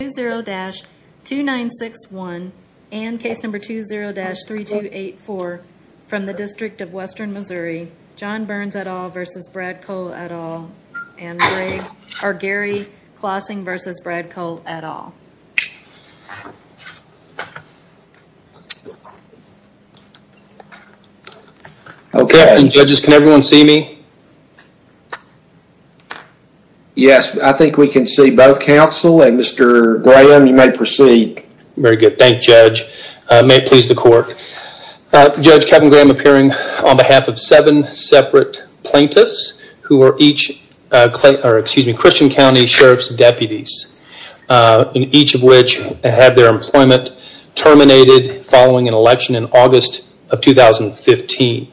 20-2961 and case number 20-3284 from the District of Western Missouri, John Burns et al. v. Brad Cole et al. and Greg, or Gary Clausing v. Brad Cole et al. Okay. Judges, can everyone see me? Yes, I think we can see both counsel and Mr. Graham, you may proceed. Very good. Thank you, Judge. May it please the court. Judge Kevin Graham appearing on behalf of seven separate plaintiffs who are each Christian County Sheriff's deputies, and each of which had their employment terminated following an election in August of 2015.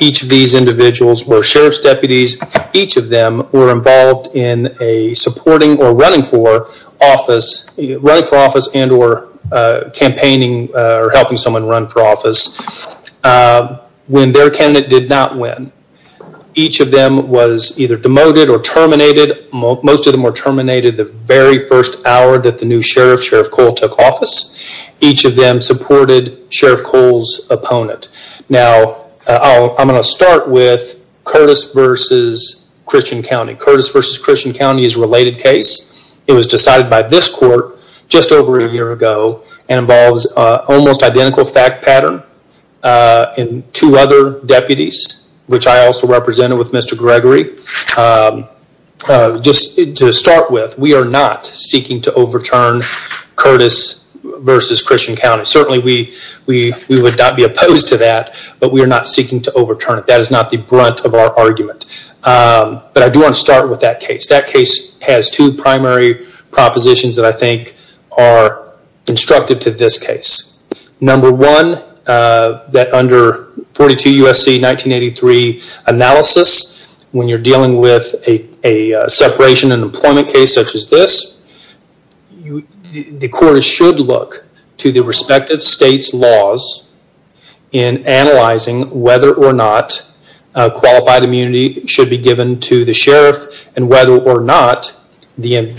Each of these individuals were Sheriff's deputies, each of them were involved in a supporting or running for office, running for office and or campaigning or helping someone run for office, when their candidate did not win. Each of them was either demoted or terminated. Most of them were terminated the very first hour that the new Sheriff, Sheriff Cole, took office. Each of them supported Sheriff Cole's opponent. Now, I'm going to start with Curtis v. Christian County. Curtis v. Christian County is a related case. It was decided by this court just over a year ago and involves almost identical fact pattern and two other deputies, which I also represented with Mr. Gregory. Just to start with, we are not seeking to overturn Curtis v. Christian County. Certainly, we would not be opposed to that, but we are not seeking to overturn it. That is not the brunt of our argument. But I do want to start with that case. That case has two primary propositions that I think are constructive to this case. Number one, that under 42 U.S.C. 1983 analysis, when you're dealing with a separation and employment case such as this, the court should look to the respective state's laws in analyzing whether or not qualified immunity should be given to the sheriff and whether or not the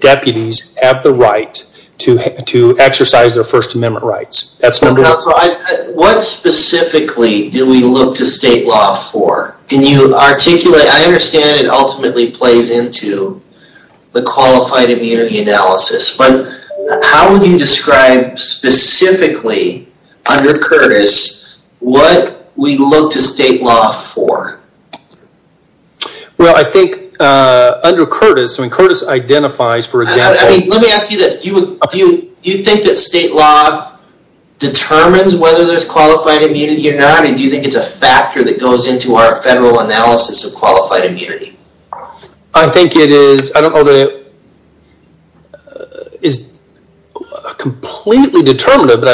deputies have the right to exercise their First Amendment rights. What specifically do we look to state law for? Can you articulate? I understand it ultimately plays into the qualified immunity analysis, but how would you describe specifically under Curtis what we look to state law for? Well, I think under Curtis, when Curtis identifies, for example, I mean, let me ask you this. Do you think that state law determines whether there's qualified immunity or not? And do you think it's a factor that goes into our federal analysis of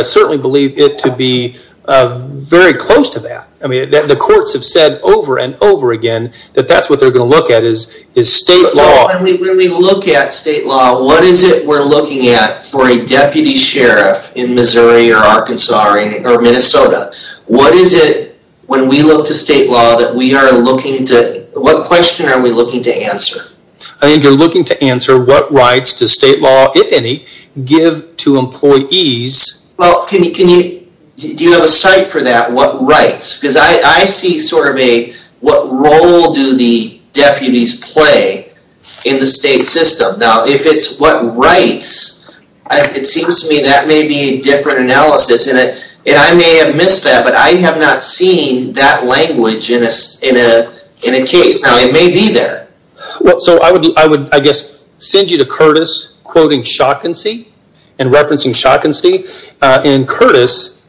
certainly believe it to be very close to that. I mean, the courts have said over and over again that that's what they're going to look at is state law. When we look at state law, what is it we're looking at for a deputy sheriff in Missouri or Arkansas or Minnesota? What is it when we look to state law that we are looking to, what question are we looking to answer? I think you're looking to answer what rights does state law, if any, give to employees? Well, do you have a site for that? What rights? Because I see sort of a, what role do the deputies play in the state system? Now, if it's what rights, it seems to me that may be a different analysis and I may have missed that, but I have not seen that language in a case. Now, it may be there. Well, so I would, I guess, send you to Curtis quoting Shotkinsy and referencing Shotkinsy. In Curtis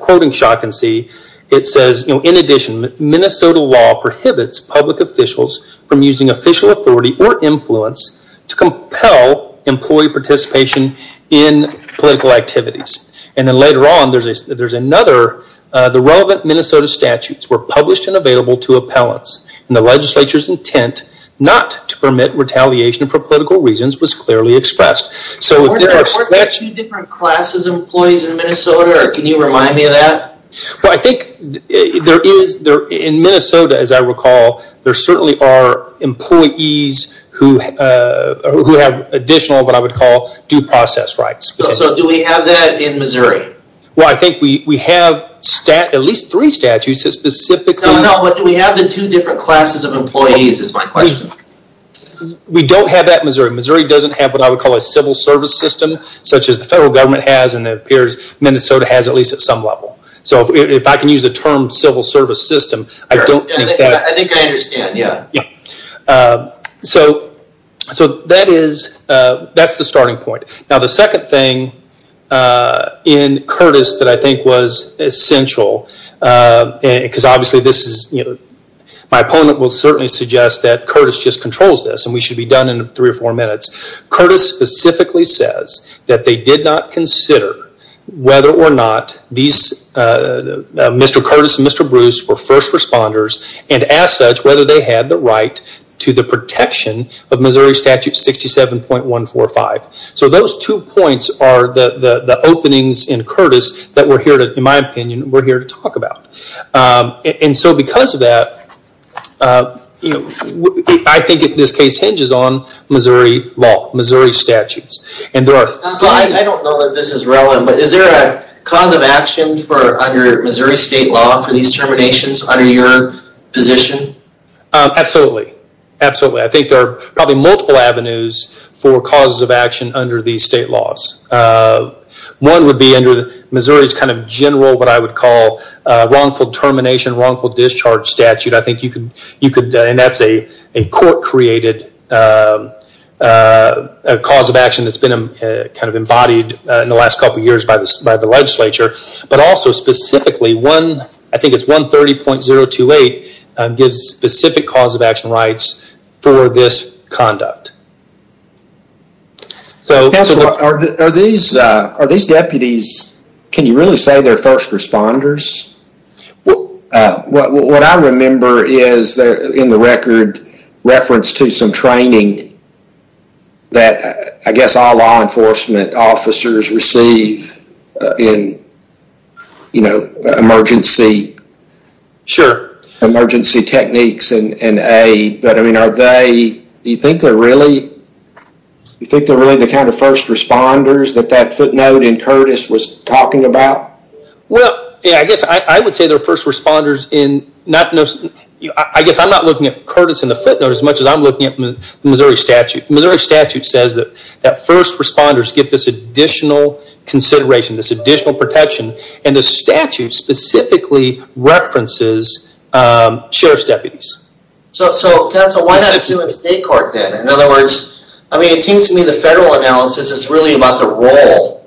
quoting Shotkinsy, it says, in addition, Minnesota law prohibits public officials from using official authority or influence to compel employee participation in political activities. And then later on, there's another, the relevant Minnesota statutes were published and available to appellants and the legislature's intent not to permit retaliation for political reasons was clearly expressed. So if there are- Are there two different classes of employees in Minnesota, or can you remind me of that? Well, I think there is, in Minnesota, as I recall, there certainly are employees who have additional, what I would call, due process rights. So do we have that in Missouri? Well, I think we have at least three statutes that specifically- No, no, but do we have the two different classes of employees is my question. We don't have that in Missouri. Missouri doesn't have what I would call a civil service system, such as the federal government has, and it appears Minnesota has at least at some level. So if I can use the term civil service system, I don't think that- I think I understand, yeah. Yeah. So that's the starting point. Now, the second thing in Curtis that I think was essential, because obviously this is, my opponent will certainly suggest that Curtis just controls this and we should be done in three or four minutes. Curtis specifically says that they did not consider whether or not these, Mr. Curtis and Mr. Bruce were first responders and as such, whether they had the right to the protection of Missouri Statute 67.145. So those two points are the openings in Curtis that we're here to, in my opinion, we're here to talk about. And so because of that, I think in this case hinges on Missouri law, Missouri statutes. And there are- I don't know that this is relevant, but is there a cause of action for under Missouri state law for these terminations under your position? Absolutely. Absolutely. I think there are probably multiple avenues for causes of action under these state laws. One would be under Missouri's kind of general, what I would call wrongful termination, wrongful discharge statute. I think you could, and that's a court created a cause of action that's been kind of embodied in the last couple of years by the legislature, but also specifically one, I think it's 130.028 gives specific cause of action rights for this conduct. So are these deputies, can you really say they're first responders? Well, what I remember is in the record reference to some training that I guess all law enforcement officers receive in emergency techniques and aid, but I mean, are they, do you think they're really the kind of first responders that that footnote Curtis was talking about? Well, yeah, I guess I would say they're first responders in not, I guess I'm not looking at Curtis in the footnote as much as I'm looking at Missouri statute. Missouri statute says that first responders get this additional consideration, this additional protection and the statute specifically references sheriff's deputies. So counsel, why not sue in state court then? In other words, I mean, it seems to me the federal analysis is really about the role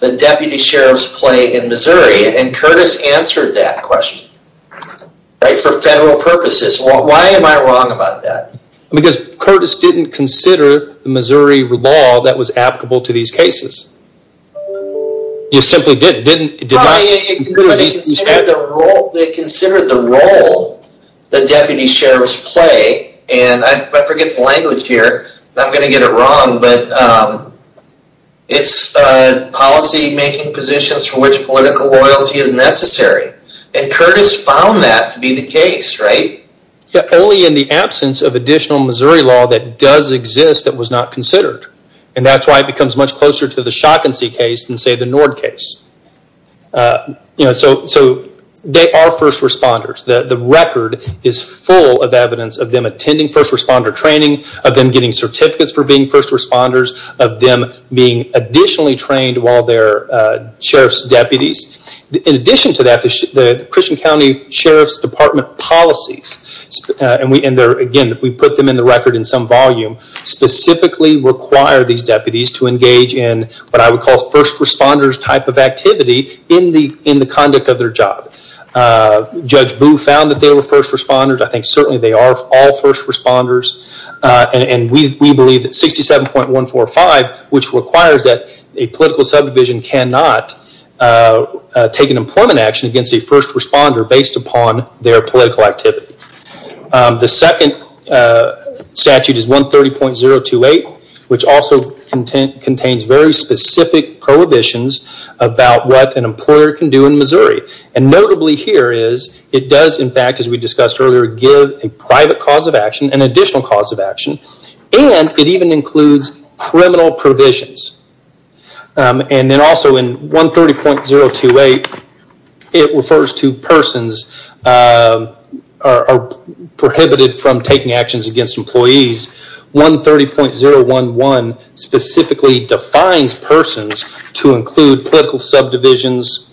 that deputy sheriffs play in Missouri. And Curtis answered that question, right? For federal purposes. Well, why am I wrong about that? Because Curtis didn't consider the Missouri law that was applicable to these cases. You simply didn't. They considered the role that deputy sheriffs play and I forget the language here. I'm not going to get it wrong, but it's policy making positions for which political loyalty is necessary. And Curtis found that to be the case, right? Yeah, only in the absence of additional Missouri law that does exist that was not considered. And that's why it becomes much closer to the Shotkinsey case than say the Nord case. So they are first responders. The record is full of evidence of them attending first responder training, of them getting certificates for being first responders, of them being additionally trained while they're sheriff's deputies. In addition to that, the Christian County Sheriff's Department policies, and again, we put them in the record in some volume, specifically require these deputies to engage in what I would call first responders type of activity in the conduct of their job. Judge Boo found that they were first responders and we believe that 67.145, which requires that a political subdivision cannot take an employment action against a first responder based upon their political activity. The second statute is 130.028, which also contains very specific prohibitions about what an employer can do in Missouri. And notably here is it does, in fact, as we discussed earlier, give a private cause of action, an additional cause of action, and it even includes criminal provisions. And then also in 130.028, it refers to persons are prohibited from taking actions against employees. 130.011 specifically defines persons to include political subdivisions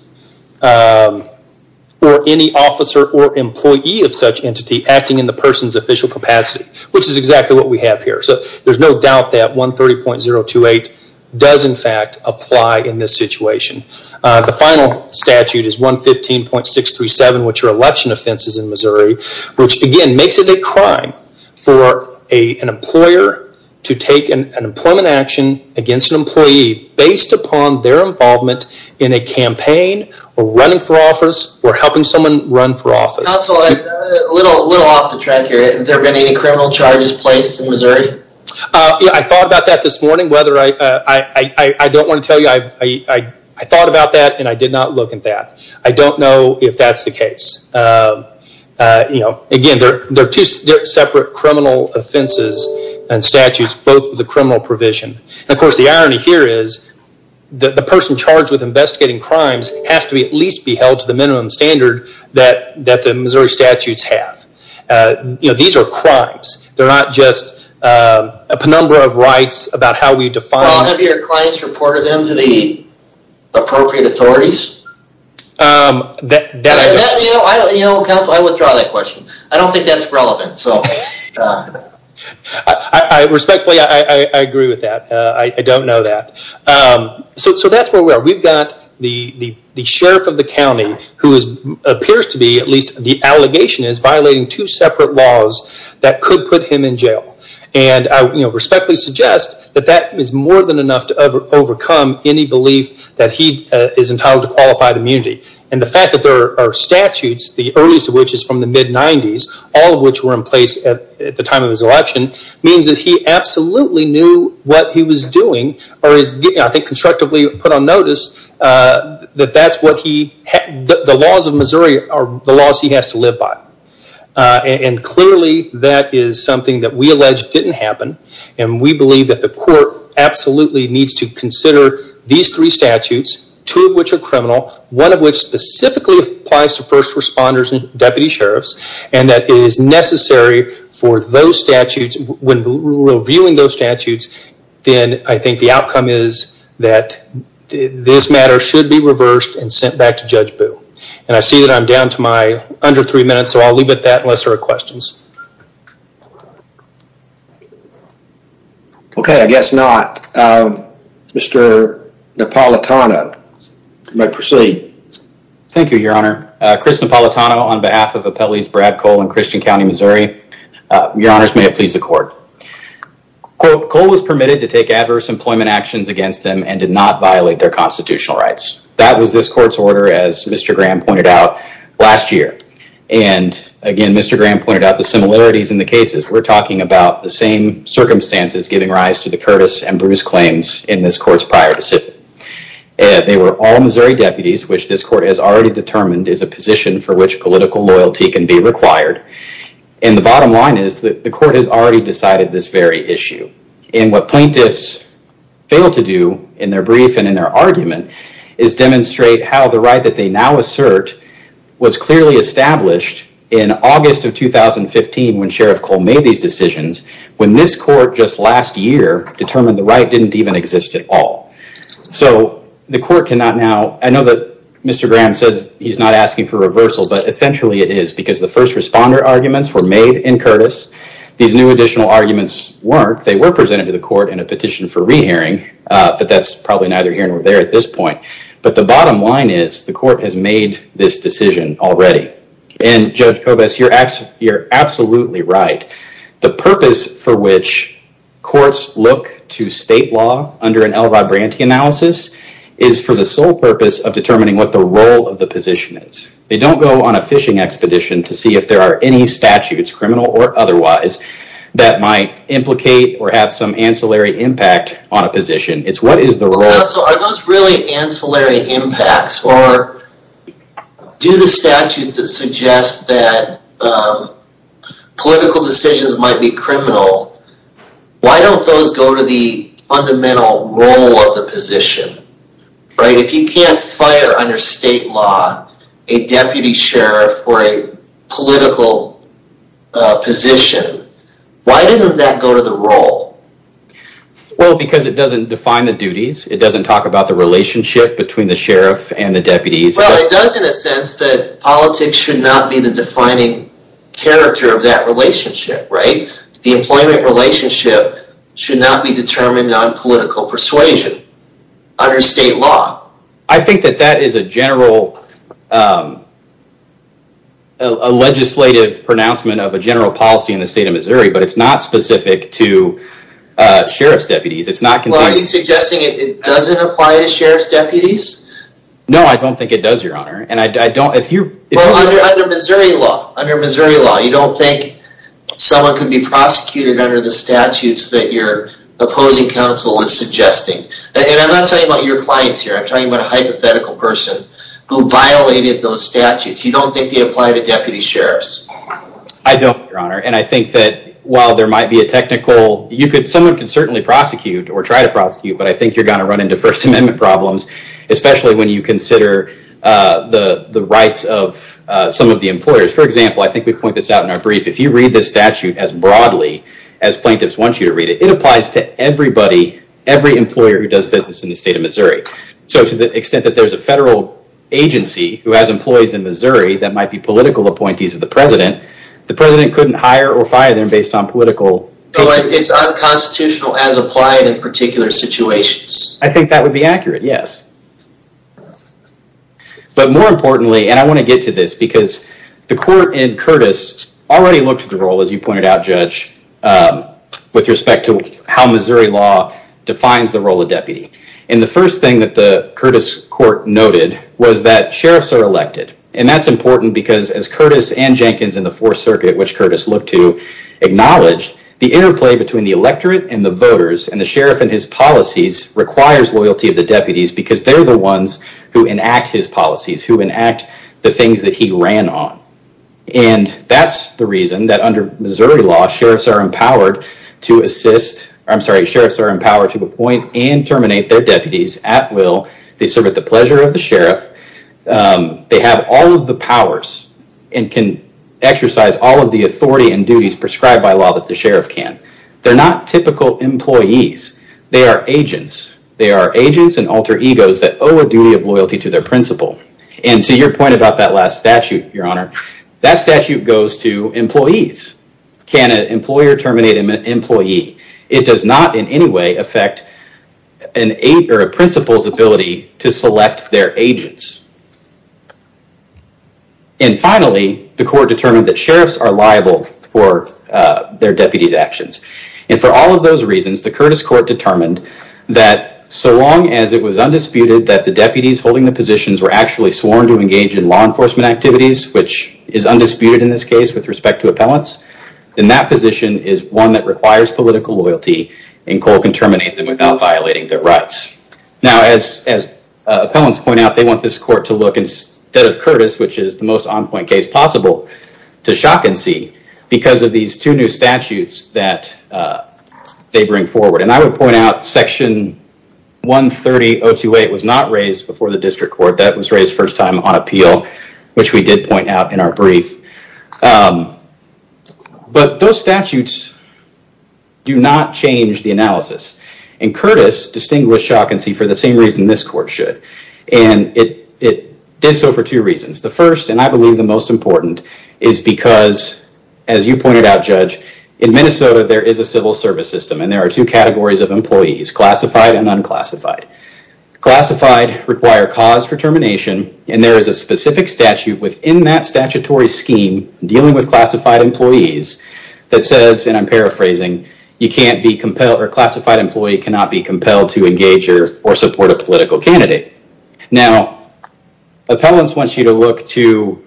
or any officer or employee of such entity acting in the person's official capacity, which is exactly what we have here. So there's no doubt that 130.028 does, in fact, apply in this situation. The final statute is 115.637, which are election offenses in Missouri, which again makes it a crime for an employer to take an employment action against an employee based upon their involvement in a campaign or running for office or helping someone run for office. Counsel, a little off the track here. Have there been any criminal charges placed in Missouri? Yeah, I thought about that this morning. I don't want to tell you, I thought about that and I did not look at that. I don't know if that's the case. Again, they're two separate criminal offenses and statutes, both with the criminal provision. Of course, the irony here is that the person charged with investigating crimes has to at least be held to the minimum standard that the Missouri statutes have. These are crimes. They're not just a penumbra of rights about how we define them. Have your clients reported them to the appropriate authorities? Counsel, I withdraw that question. I don't think that's relevant. I respectfully, I agree with that. I don't know that. That's where we are. We've got the sheriff of the county who appears to be, at least the allegation is, violating two separate laws that could put him in jail. I respectfully suggest that that is more than enough to overcome any belief that he is entitled to qualified immunity. The fact that there are statutes, the earliest of which is from the mid-90s, all of which were in place at the time of his election, means that he absolutely knew what he was doing or is, I think, constructively put on notice that that's what he, the laws of Missouri are the laws he has to live by. Clearly, that is something that we allege didn't happen and we believe that the court absolutely needs to consider these three statutes, two of which are criminal, one of which specifically applies to first responders and deputy sheriffs, and that it is necessary for those statutes, when reviewing those statutes, then I think the outcome is that this matter should be reversed and sent back to Judge Boo. I see that I'm down to my under three minutes, so I'll leave it at that unless there are questions. Okay, I guess not. Mr. Napolitano, you may proceed. Thank you, your honor. Chris Napolitano on behalf of Appellees Brad Cole and Christian County, Missouri. Your honors, may it please the court. Cole was permitted to take adverse employment actions against them and did not violate their constitutional rights. That was this court's order, as Mr. Graham pointed out last year, and again, Mr. Graham pointed out the similarities in the cases. We're talking about the same circumstances giving rise to the Curtis and Missouri deputies, which this court has already determined is a position for which political loyalty can be required. The bottom line is that the court has already decided this very issue, and what plaintiffs fail to do in their brief and in their argument is demonstrate how the right that they now assert was clearly established in August of 2015 when Sheriff Cole made these decisions, when this court just last year determined the right didn't even exist at all. So the court cannot now, I know that Mr. Graham says he's not asking for reversal, but essentially it is because the first responder arguments were made in Curtis. These new additional arguments weren't. They were presented to the court in a petition for rehearing, but that's probably neither here nor there at this point, but the bottom line is the court has made this decision already, and Judge Kovas, you're absolutely right. The purpose for which courts look to state law under an Elrod Branty analysis is for the sole purpose of determining what the role of the position is. They don't go on a fishing expedition to see if there are any statutes, criminal or otherwise, that might implicate or have some ancillary impact on a position. It's what is the role. So are those really ancillary impacts or do the statutes that suggest that political decisions might be criminal, why don't those go to the fundamental role of the position, right? If you can't fire under state law a deputy sheriff or a political position, why doesn't that go to the role? Well, because it doesn't define the duties. It doesn't talk about the relationship between the sheriff and the deputies. Well, it does in a sense that politics should not be the defining character of that relationship, right? The employment relationship should not be determined on political persuasion under state law. I think that that is a general legislative pronouncement of a general policy in the state of Missouri, but it's not specific to sheriff's deputies. Are you suggesting it doesn't apply to sheriff's deputies? No, I don't think it does, your honor. Under Missouri law, you don't think someone could be prosecuted under the statutes that your opposing counsel is suggesting. And I'm not talking about your clients here. I'm talking about a hypothetical person who violated those statutes. You don't think they apply to deputy sheriffs? I don't, your honor. And I think that while there might be a technical, someone can certainly prosecute or try to prosecute, but I think you're going to run into first amendment problems. Especially when you consider the rights of some of the employers. For example, I think we point this out in our brief. If you read this statute as broadly as plaintiffs want you to read it, it applies to everybody, every employer who does business in the state of Missouri. So to the extent that there's a federal agency who has employees in Missouri that might be political appointees of the president, the president couldn't hire or fire them based on political... It's unconstitutional as applied in particular situations. I think that would be accurate, yes. But more importantly, and I want to get to this because the court in Curtis already looked at the role, as you pointed out, Judge, with respect to how Missouri law defines the role of deputy. And the first thing that the Curtis court noted was that sheriffs are elected. And that's important because as Curtis and Jenkins in the fourth circuit, which Curtis looked to acknowledge, the interplay between the electorate and the voters and the sheriff and his policies requires loyalty of the deputies because they're the ones who enact his policies, who enact the things that he ran on. And that's the reason that under Missouri law, sheriffs are empowered to assist... I'm sorry, sheriffs are empowered to appoint and terminate their deputies at will. They serve at the pleasure of the sheriff. They have all of the powers and can exercise all of the authority and duties prescribed by law that the sheriff can. They're not typical employees. They are agents. They are agents and alter egos that owe a duty of loyalty to their principal. And to your point about that last statute, your honor, that statute goes to employees. Can an employer terminate an employee? It does not in any way affect a principal's ability to select their agents. And finally, the court determined that sheriffs are liable for their deputies' actions. And for all of those reasons, the Curtis court determined that so long as it was undisputed that the deputies holding the positions were actually sworn to engage in law enforcement activities, which is undisputed in this case with respect to appellants, then that position is one that requires political loyalty and COLE can terminate them without violating their rights. Now, as appellants point out, they want this court to look instead of Curtis, which is the most on-point case possible to shock and see because of these two new statutes that they bring forward. And I would point out section 130.028 was not raised before the district court. That was raised first time on appeal, which we did point out in our brief. But those statutes do not change the analysis. And Curtis distinguished shock and see for the same reason this court should. And it did so for two reasons. The first, and I believe the most important, is because, as you pointed out, Judge, in Minnesota, there is a civil service system and there are two categories of employees, classified and unclassified. Classified require cause for termination. And there is a specific statute within that statutory scheme dealing with I'm paraphrasing, you can't be compelled or classified employee cannot be compelled to engage or support a political candidate. Now, appellants want you to look to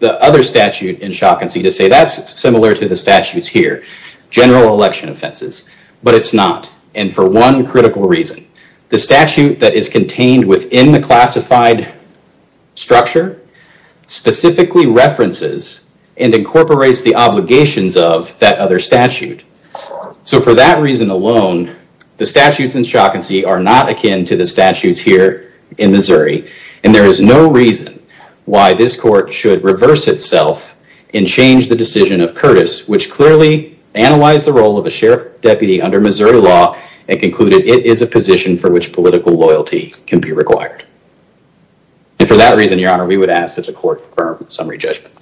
the other statute in shock and see to say that's similar to the statutes here, general election offenses, but it's not. And for one critical reason, the statute that is contained within the classified structure specifically references and incorporates the obligations of that other statute. So for that reason alone, the statutes in shock and see are not akin to the statutes here in Missouri. And there is no reason why this court should reverse itself and change the decision of Curtis, which clearly analyzed the role of a sheriff deputy under Missouri law and concluded it is a position for which political loyalty can be required. And for that reason, Your Honor, we would ask that the court confirm summary judgment.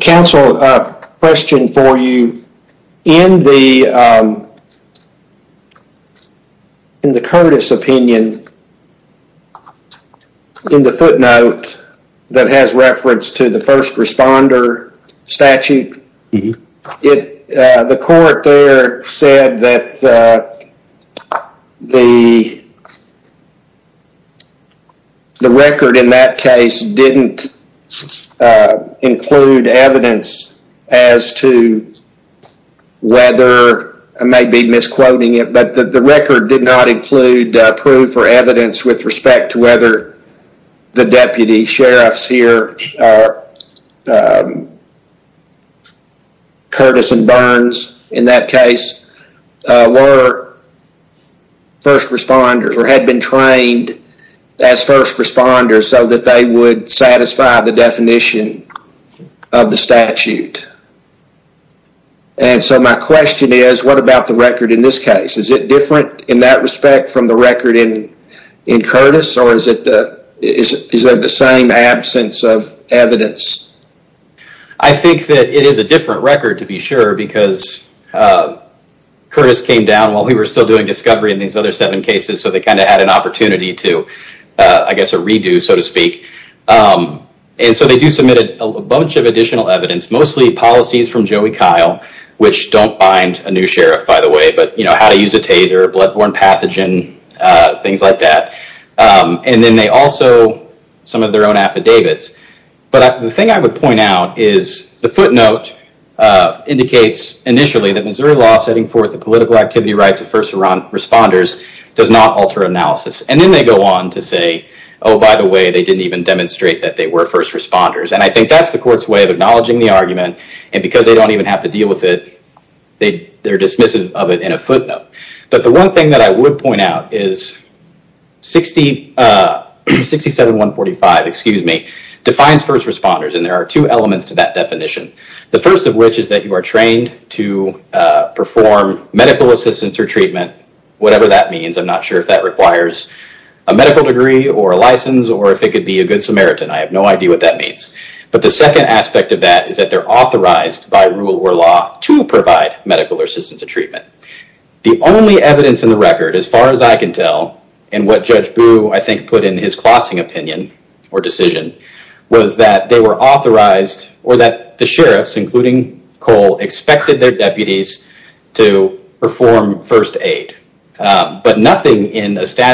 Counsel, a question for you. In the Curtis opinion, in the footnote that has reference to the first responder statute, the court there said that the record in that case didn't include evidence as to whether, I may be misquoting it, but the record did not include proof or evidence with respect to whether the deputy sheriffs here Curtis and Burns, in that case, were first responders or had been trained as first responders so that they would satisfy the definition of the statute. And so my question is, what about the record in this case? Is it different in that respect from the record in Curtis or is it the same absence of evidence? I think that it is a different record to be sure because Curtis came down while we were still doing discovery in these other seven cases, so they kind of had an opportunity to, I guess, a redo, so to speak. And so they do submit a bunch of additional evidence, mostly policies from Joey Kyle, which don't bind a new sheriff, by the way, how to use a taser, bloodborne pathogen, things like that. And then they also, some of their own affidavits. But the thing I would point out is the footnote indicates initially that Missouri law setting forth the political activity rights of first responders does not alter analysis. And then they go on to say, oh, by the way, they didn't even demonstrate that they were first responders. And I think that's the court's way of acknowledging the argument. And because they don't even have to deal with it, they're dismissive of it in a footnote. But the one thing that I would point out is 67145, excuse me, defines first responders. And there are two elements to that definition. The first of which is that you are trained to perform medical assistance or treatment, whatever that means. I'm not sure if that requires a medical degree or a license, or if it could be a good Samaritan. I have no idea what that means. But the second aspect of that is that they're authorized by rule or law to provide medical assistance and treatment. The only evidence in the record, as far as I can tell, and what Judge Boo I think put in his clossing opinion or decision, was that they were authorized or that the sheriffs, including Cole, expected their deputies to perform first aid. But nothing in medical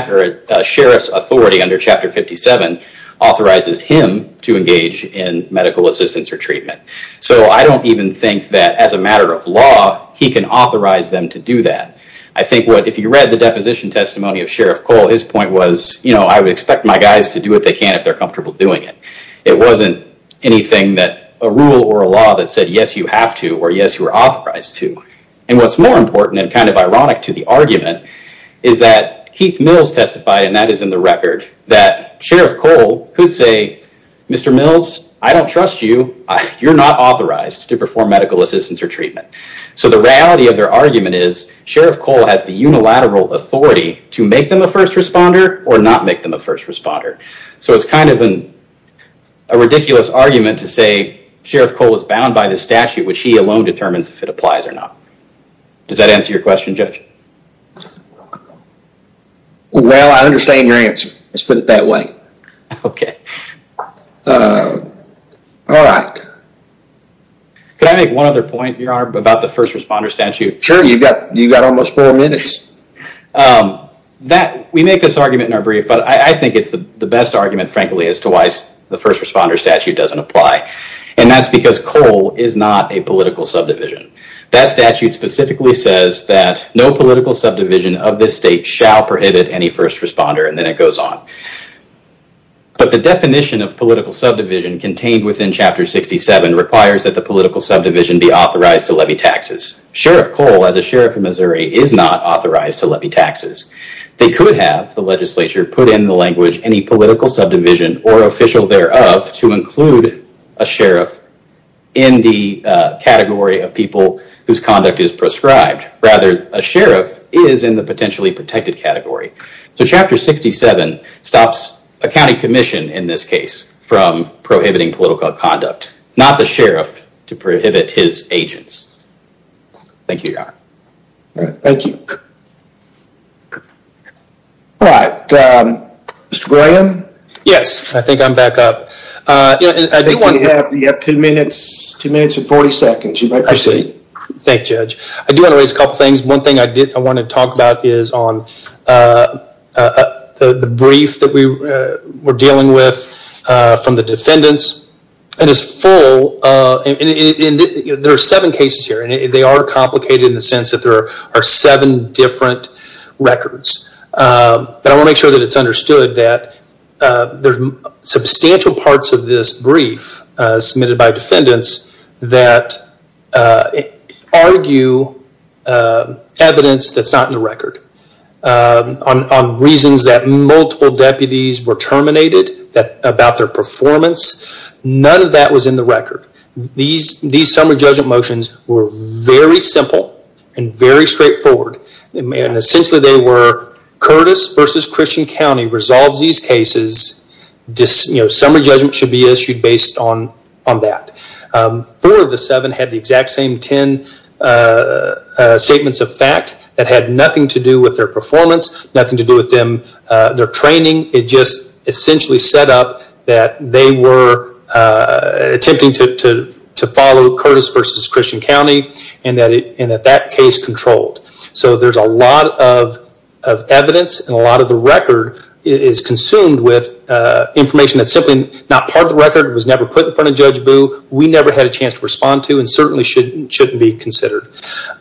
assistance or treatment. So I don't even think that as a matter of law, he can authorize them to do that. I think if you read the deposition testimony of Sheriff Cole, his point was, I would expect my guys to do what they can if they're comfortable doing it. It wasn't anything that a rule or a law that said, yes, you have to, or yes, you are authorized to. And what's more important and kind of ironic to the argument is that Keith Mills testified, and that is in the I don't trust you. You're not authorized to perform medical assistance or treatment. So the reality of their argument is Sheriff Cole has the unilateral authority to make them a first responder or not make them a first responder. So it's kind of a ridiculous argument to say Sheriff Cole is bound by the statute, which he alone determines if it applies or not. Does that answer your question, Judge? Well, I understand your answer. Let's put it that way. Okay. All right. Can I make one other point, Your Honor, about the first responder statute? Sure. You've got almost four minutes. We make this argument in our brief, but I think it's the best argument, frankly, as to why the first responder statute doesn't apply. And that's because Cole is not a political subdivision. That statute specifically says that no political subdivision of this state shall prohibit any first responder, and then it goes on. But the definition of political subdivision contained within Chapter 67 requires that the political subdivision be authorized to levy taxes. Sheriff Cole, as a sheriff of Missouri, is not authorized to levy taxes. They could have, the legislature put in the language, any political subdivision or official thereof to include a sheriff in the category of people whose conduct is proscribed. Rather, a sheriff is in the potentially protected category. So Chapter 67 stops a county commission, in this case, from prohibiting political conduct. Not the sheriff to prohibit his agents. Thank you, Your Honor. Thank you. All right. Mr. Graham? Yes. I think I'm back up. I think you have two minutes and 40 seconds. You may proceed. Thank you, Judge. I do want to raise a couple of things. One thing I want to talk about is on the brief that we were dealing with from the defendants. It is full. There are seven cases here, and they are complicated in the sense that there are seven different records. But I want to make sure that it's understood that there's substantial parts of this brief submitted by defendants that argue evidence that's not in the record. On reasons that multiple deputies were terminated about their performance, none of that was in the record. These summary judgment motions were very simple and very discreet. Summary judgment should be issued based on that. Four of the seven had the exact same 10 statements of fact that had nothing to do with their performance, nothing to do with their training. It just essentially set up that they were attempting to follow Curtis v. Christian County and that case controlled. So there's a lot of evidence and a lot of the record is consumed with information that's simply not part of the record, was never put in front of Judge Boo. We never had a chance to respond to and certainly shouldn't be considered.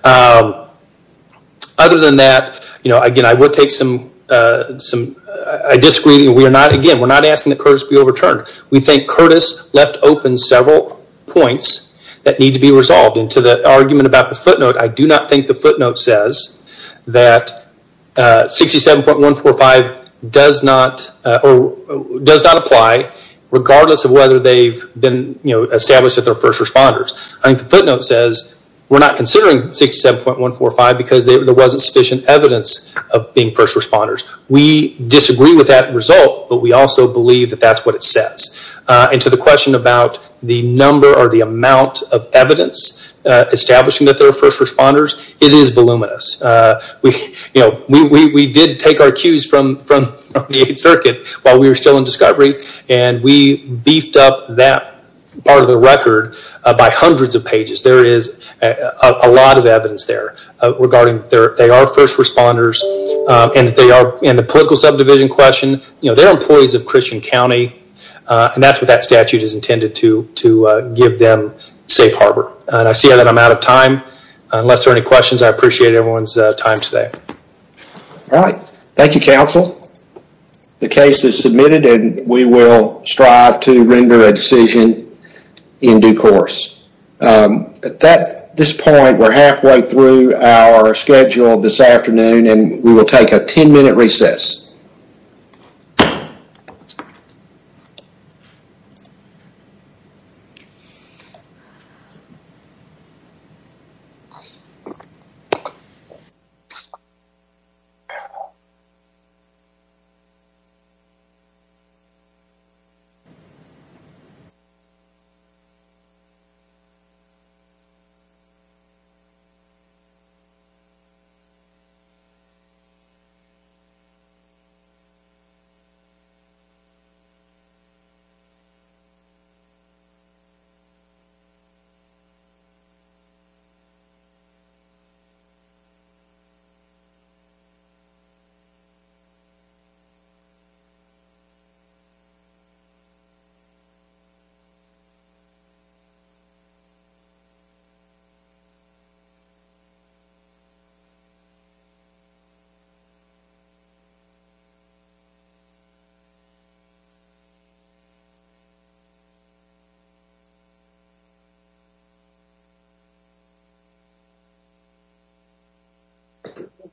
Other than that, again, I would take some, I disagree. Again, we're not asking that Curtis be overturned. We think Curtis left open several points that need to be resolved. To the argument about the footnote, I do not think the footnote says that 67.145 does not apply regardless of whether they've been established as their first responders. I think the footnote says we're not considering 67.145 because there wasn't sufficient evidence of being first responders. We disagree with that result but we also believe that that's what it says. And to the question about the number or the amount of evidence establishing that they're first responders, it is voluminous. We did take our cues from the circuit while we were still in discovery and we beefed up that part of the record by hundreds of pages. There is a lot of evidence there regarding that they are first responders and that they are in the political subdivision question. They're employees of Christian County and that's what that statute is intended to give them safe harbor. I see that I'm out of time. Unless there are any questions, I appreciate everyone's time today. All right. Thank you, counsel. The case is submitted and we will strive to render a decision in due course. At this point, we're halfway through our schedule this afternoon and we will take a 10-minute recess. Thank you.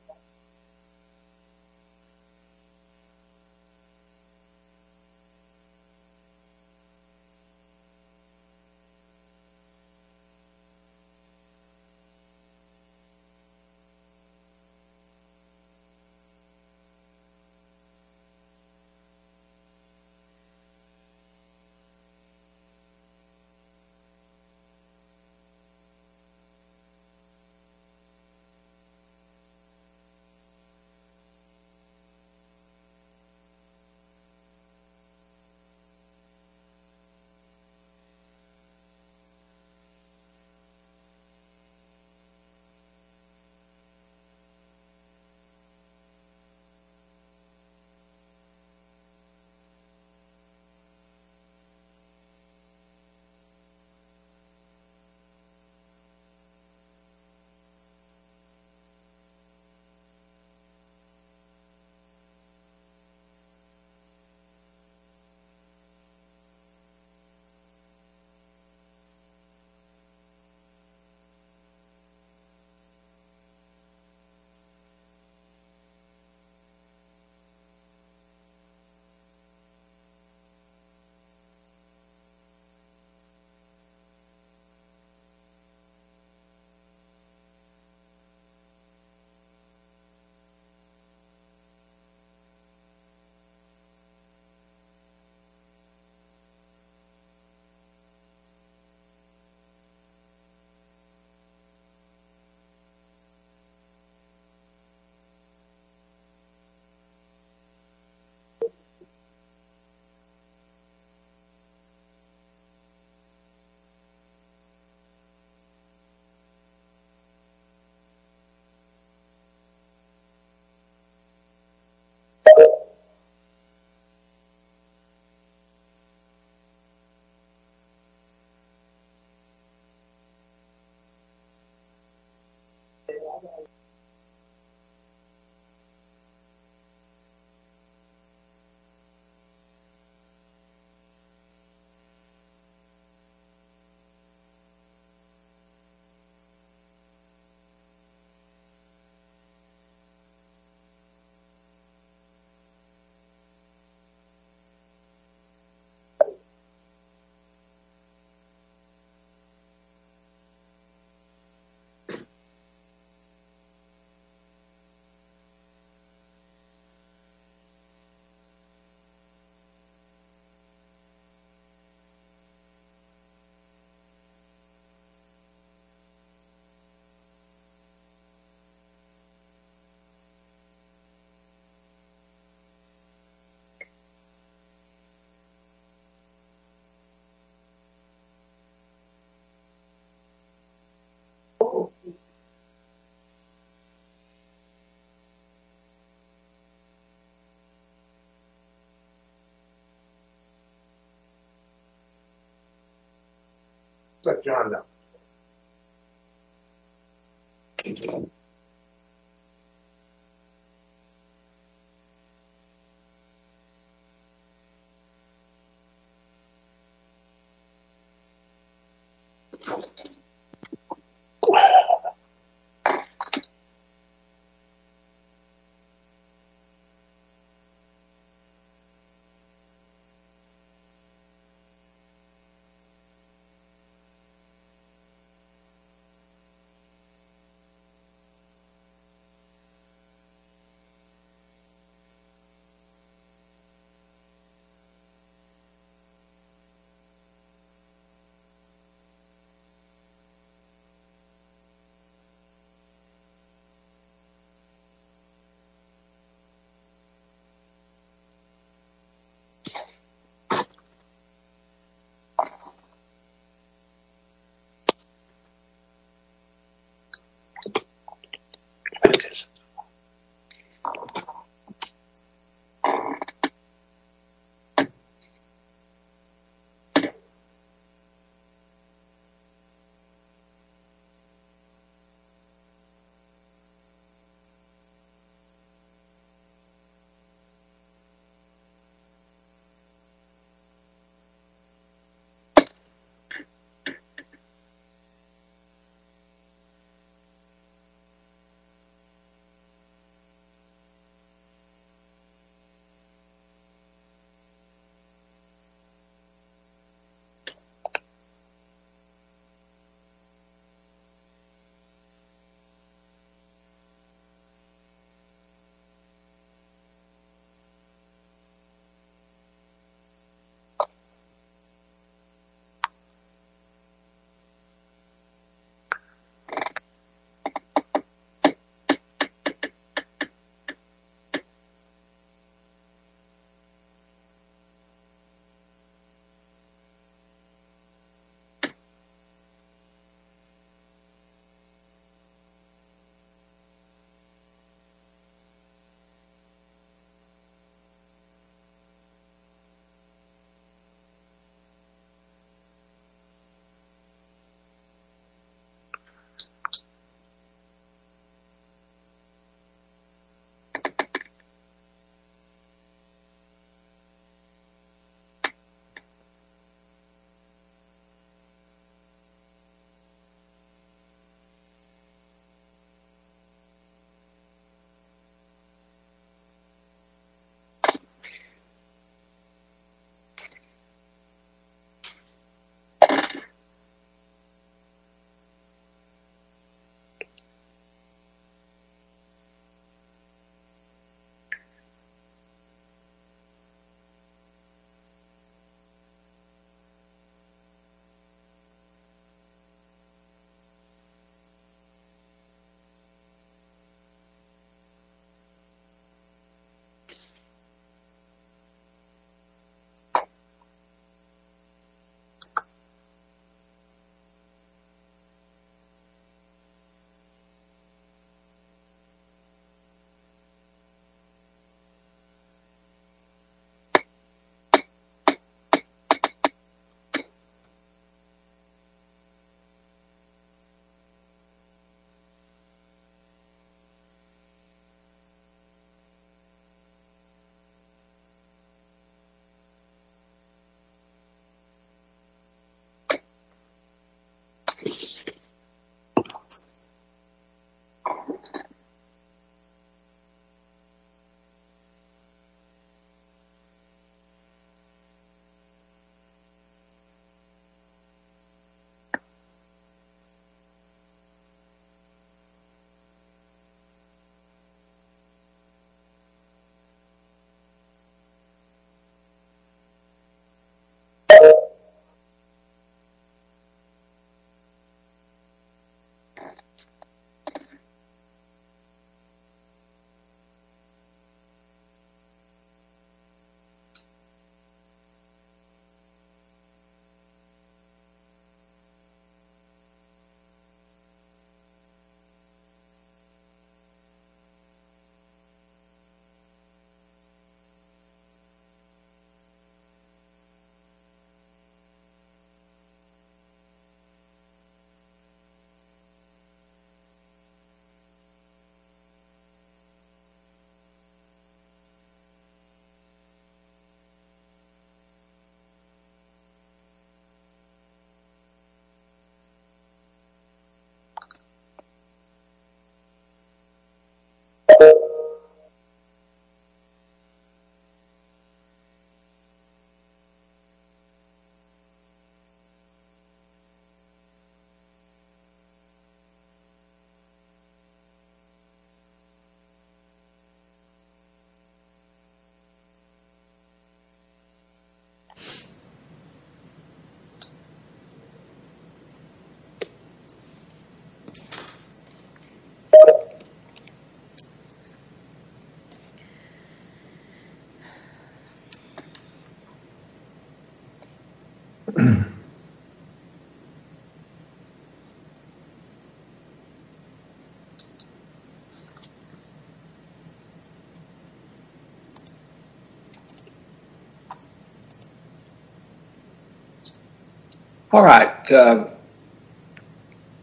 All right.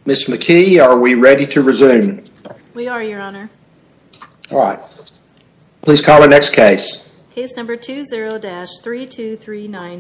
Ms. McKee, are we ready to resume? We are, your honor. All right. Please call the next case. Case number 20-3239.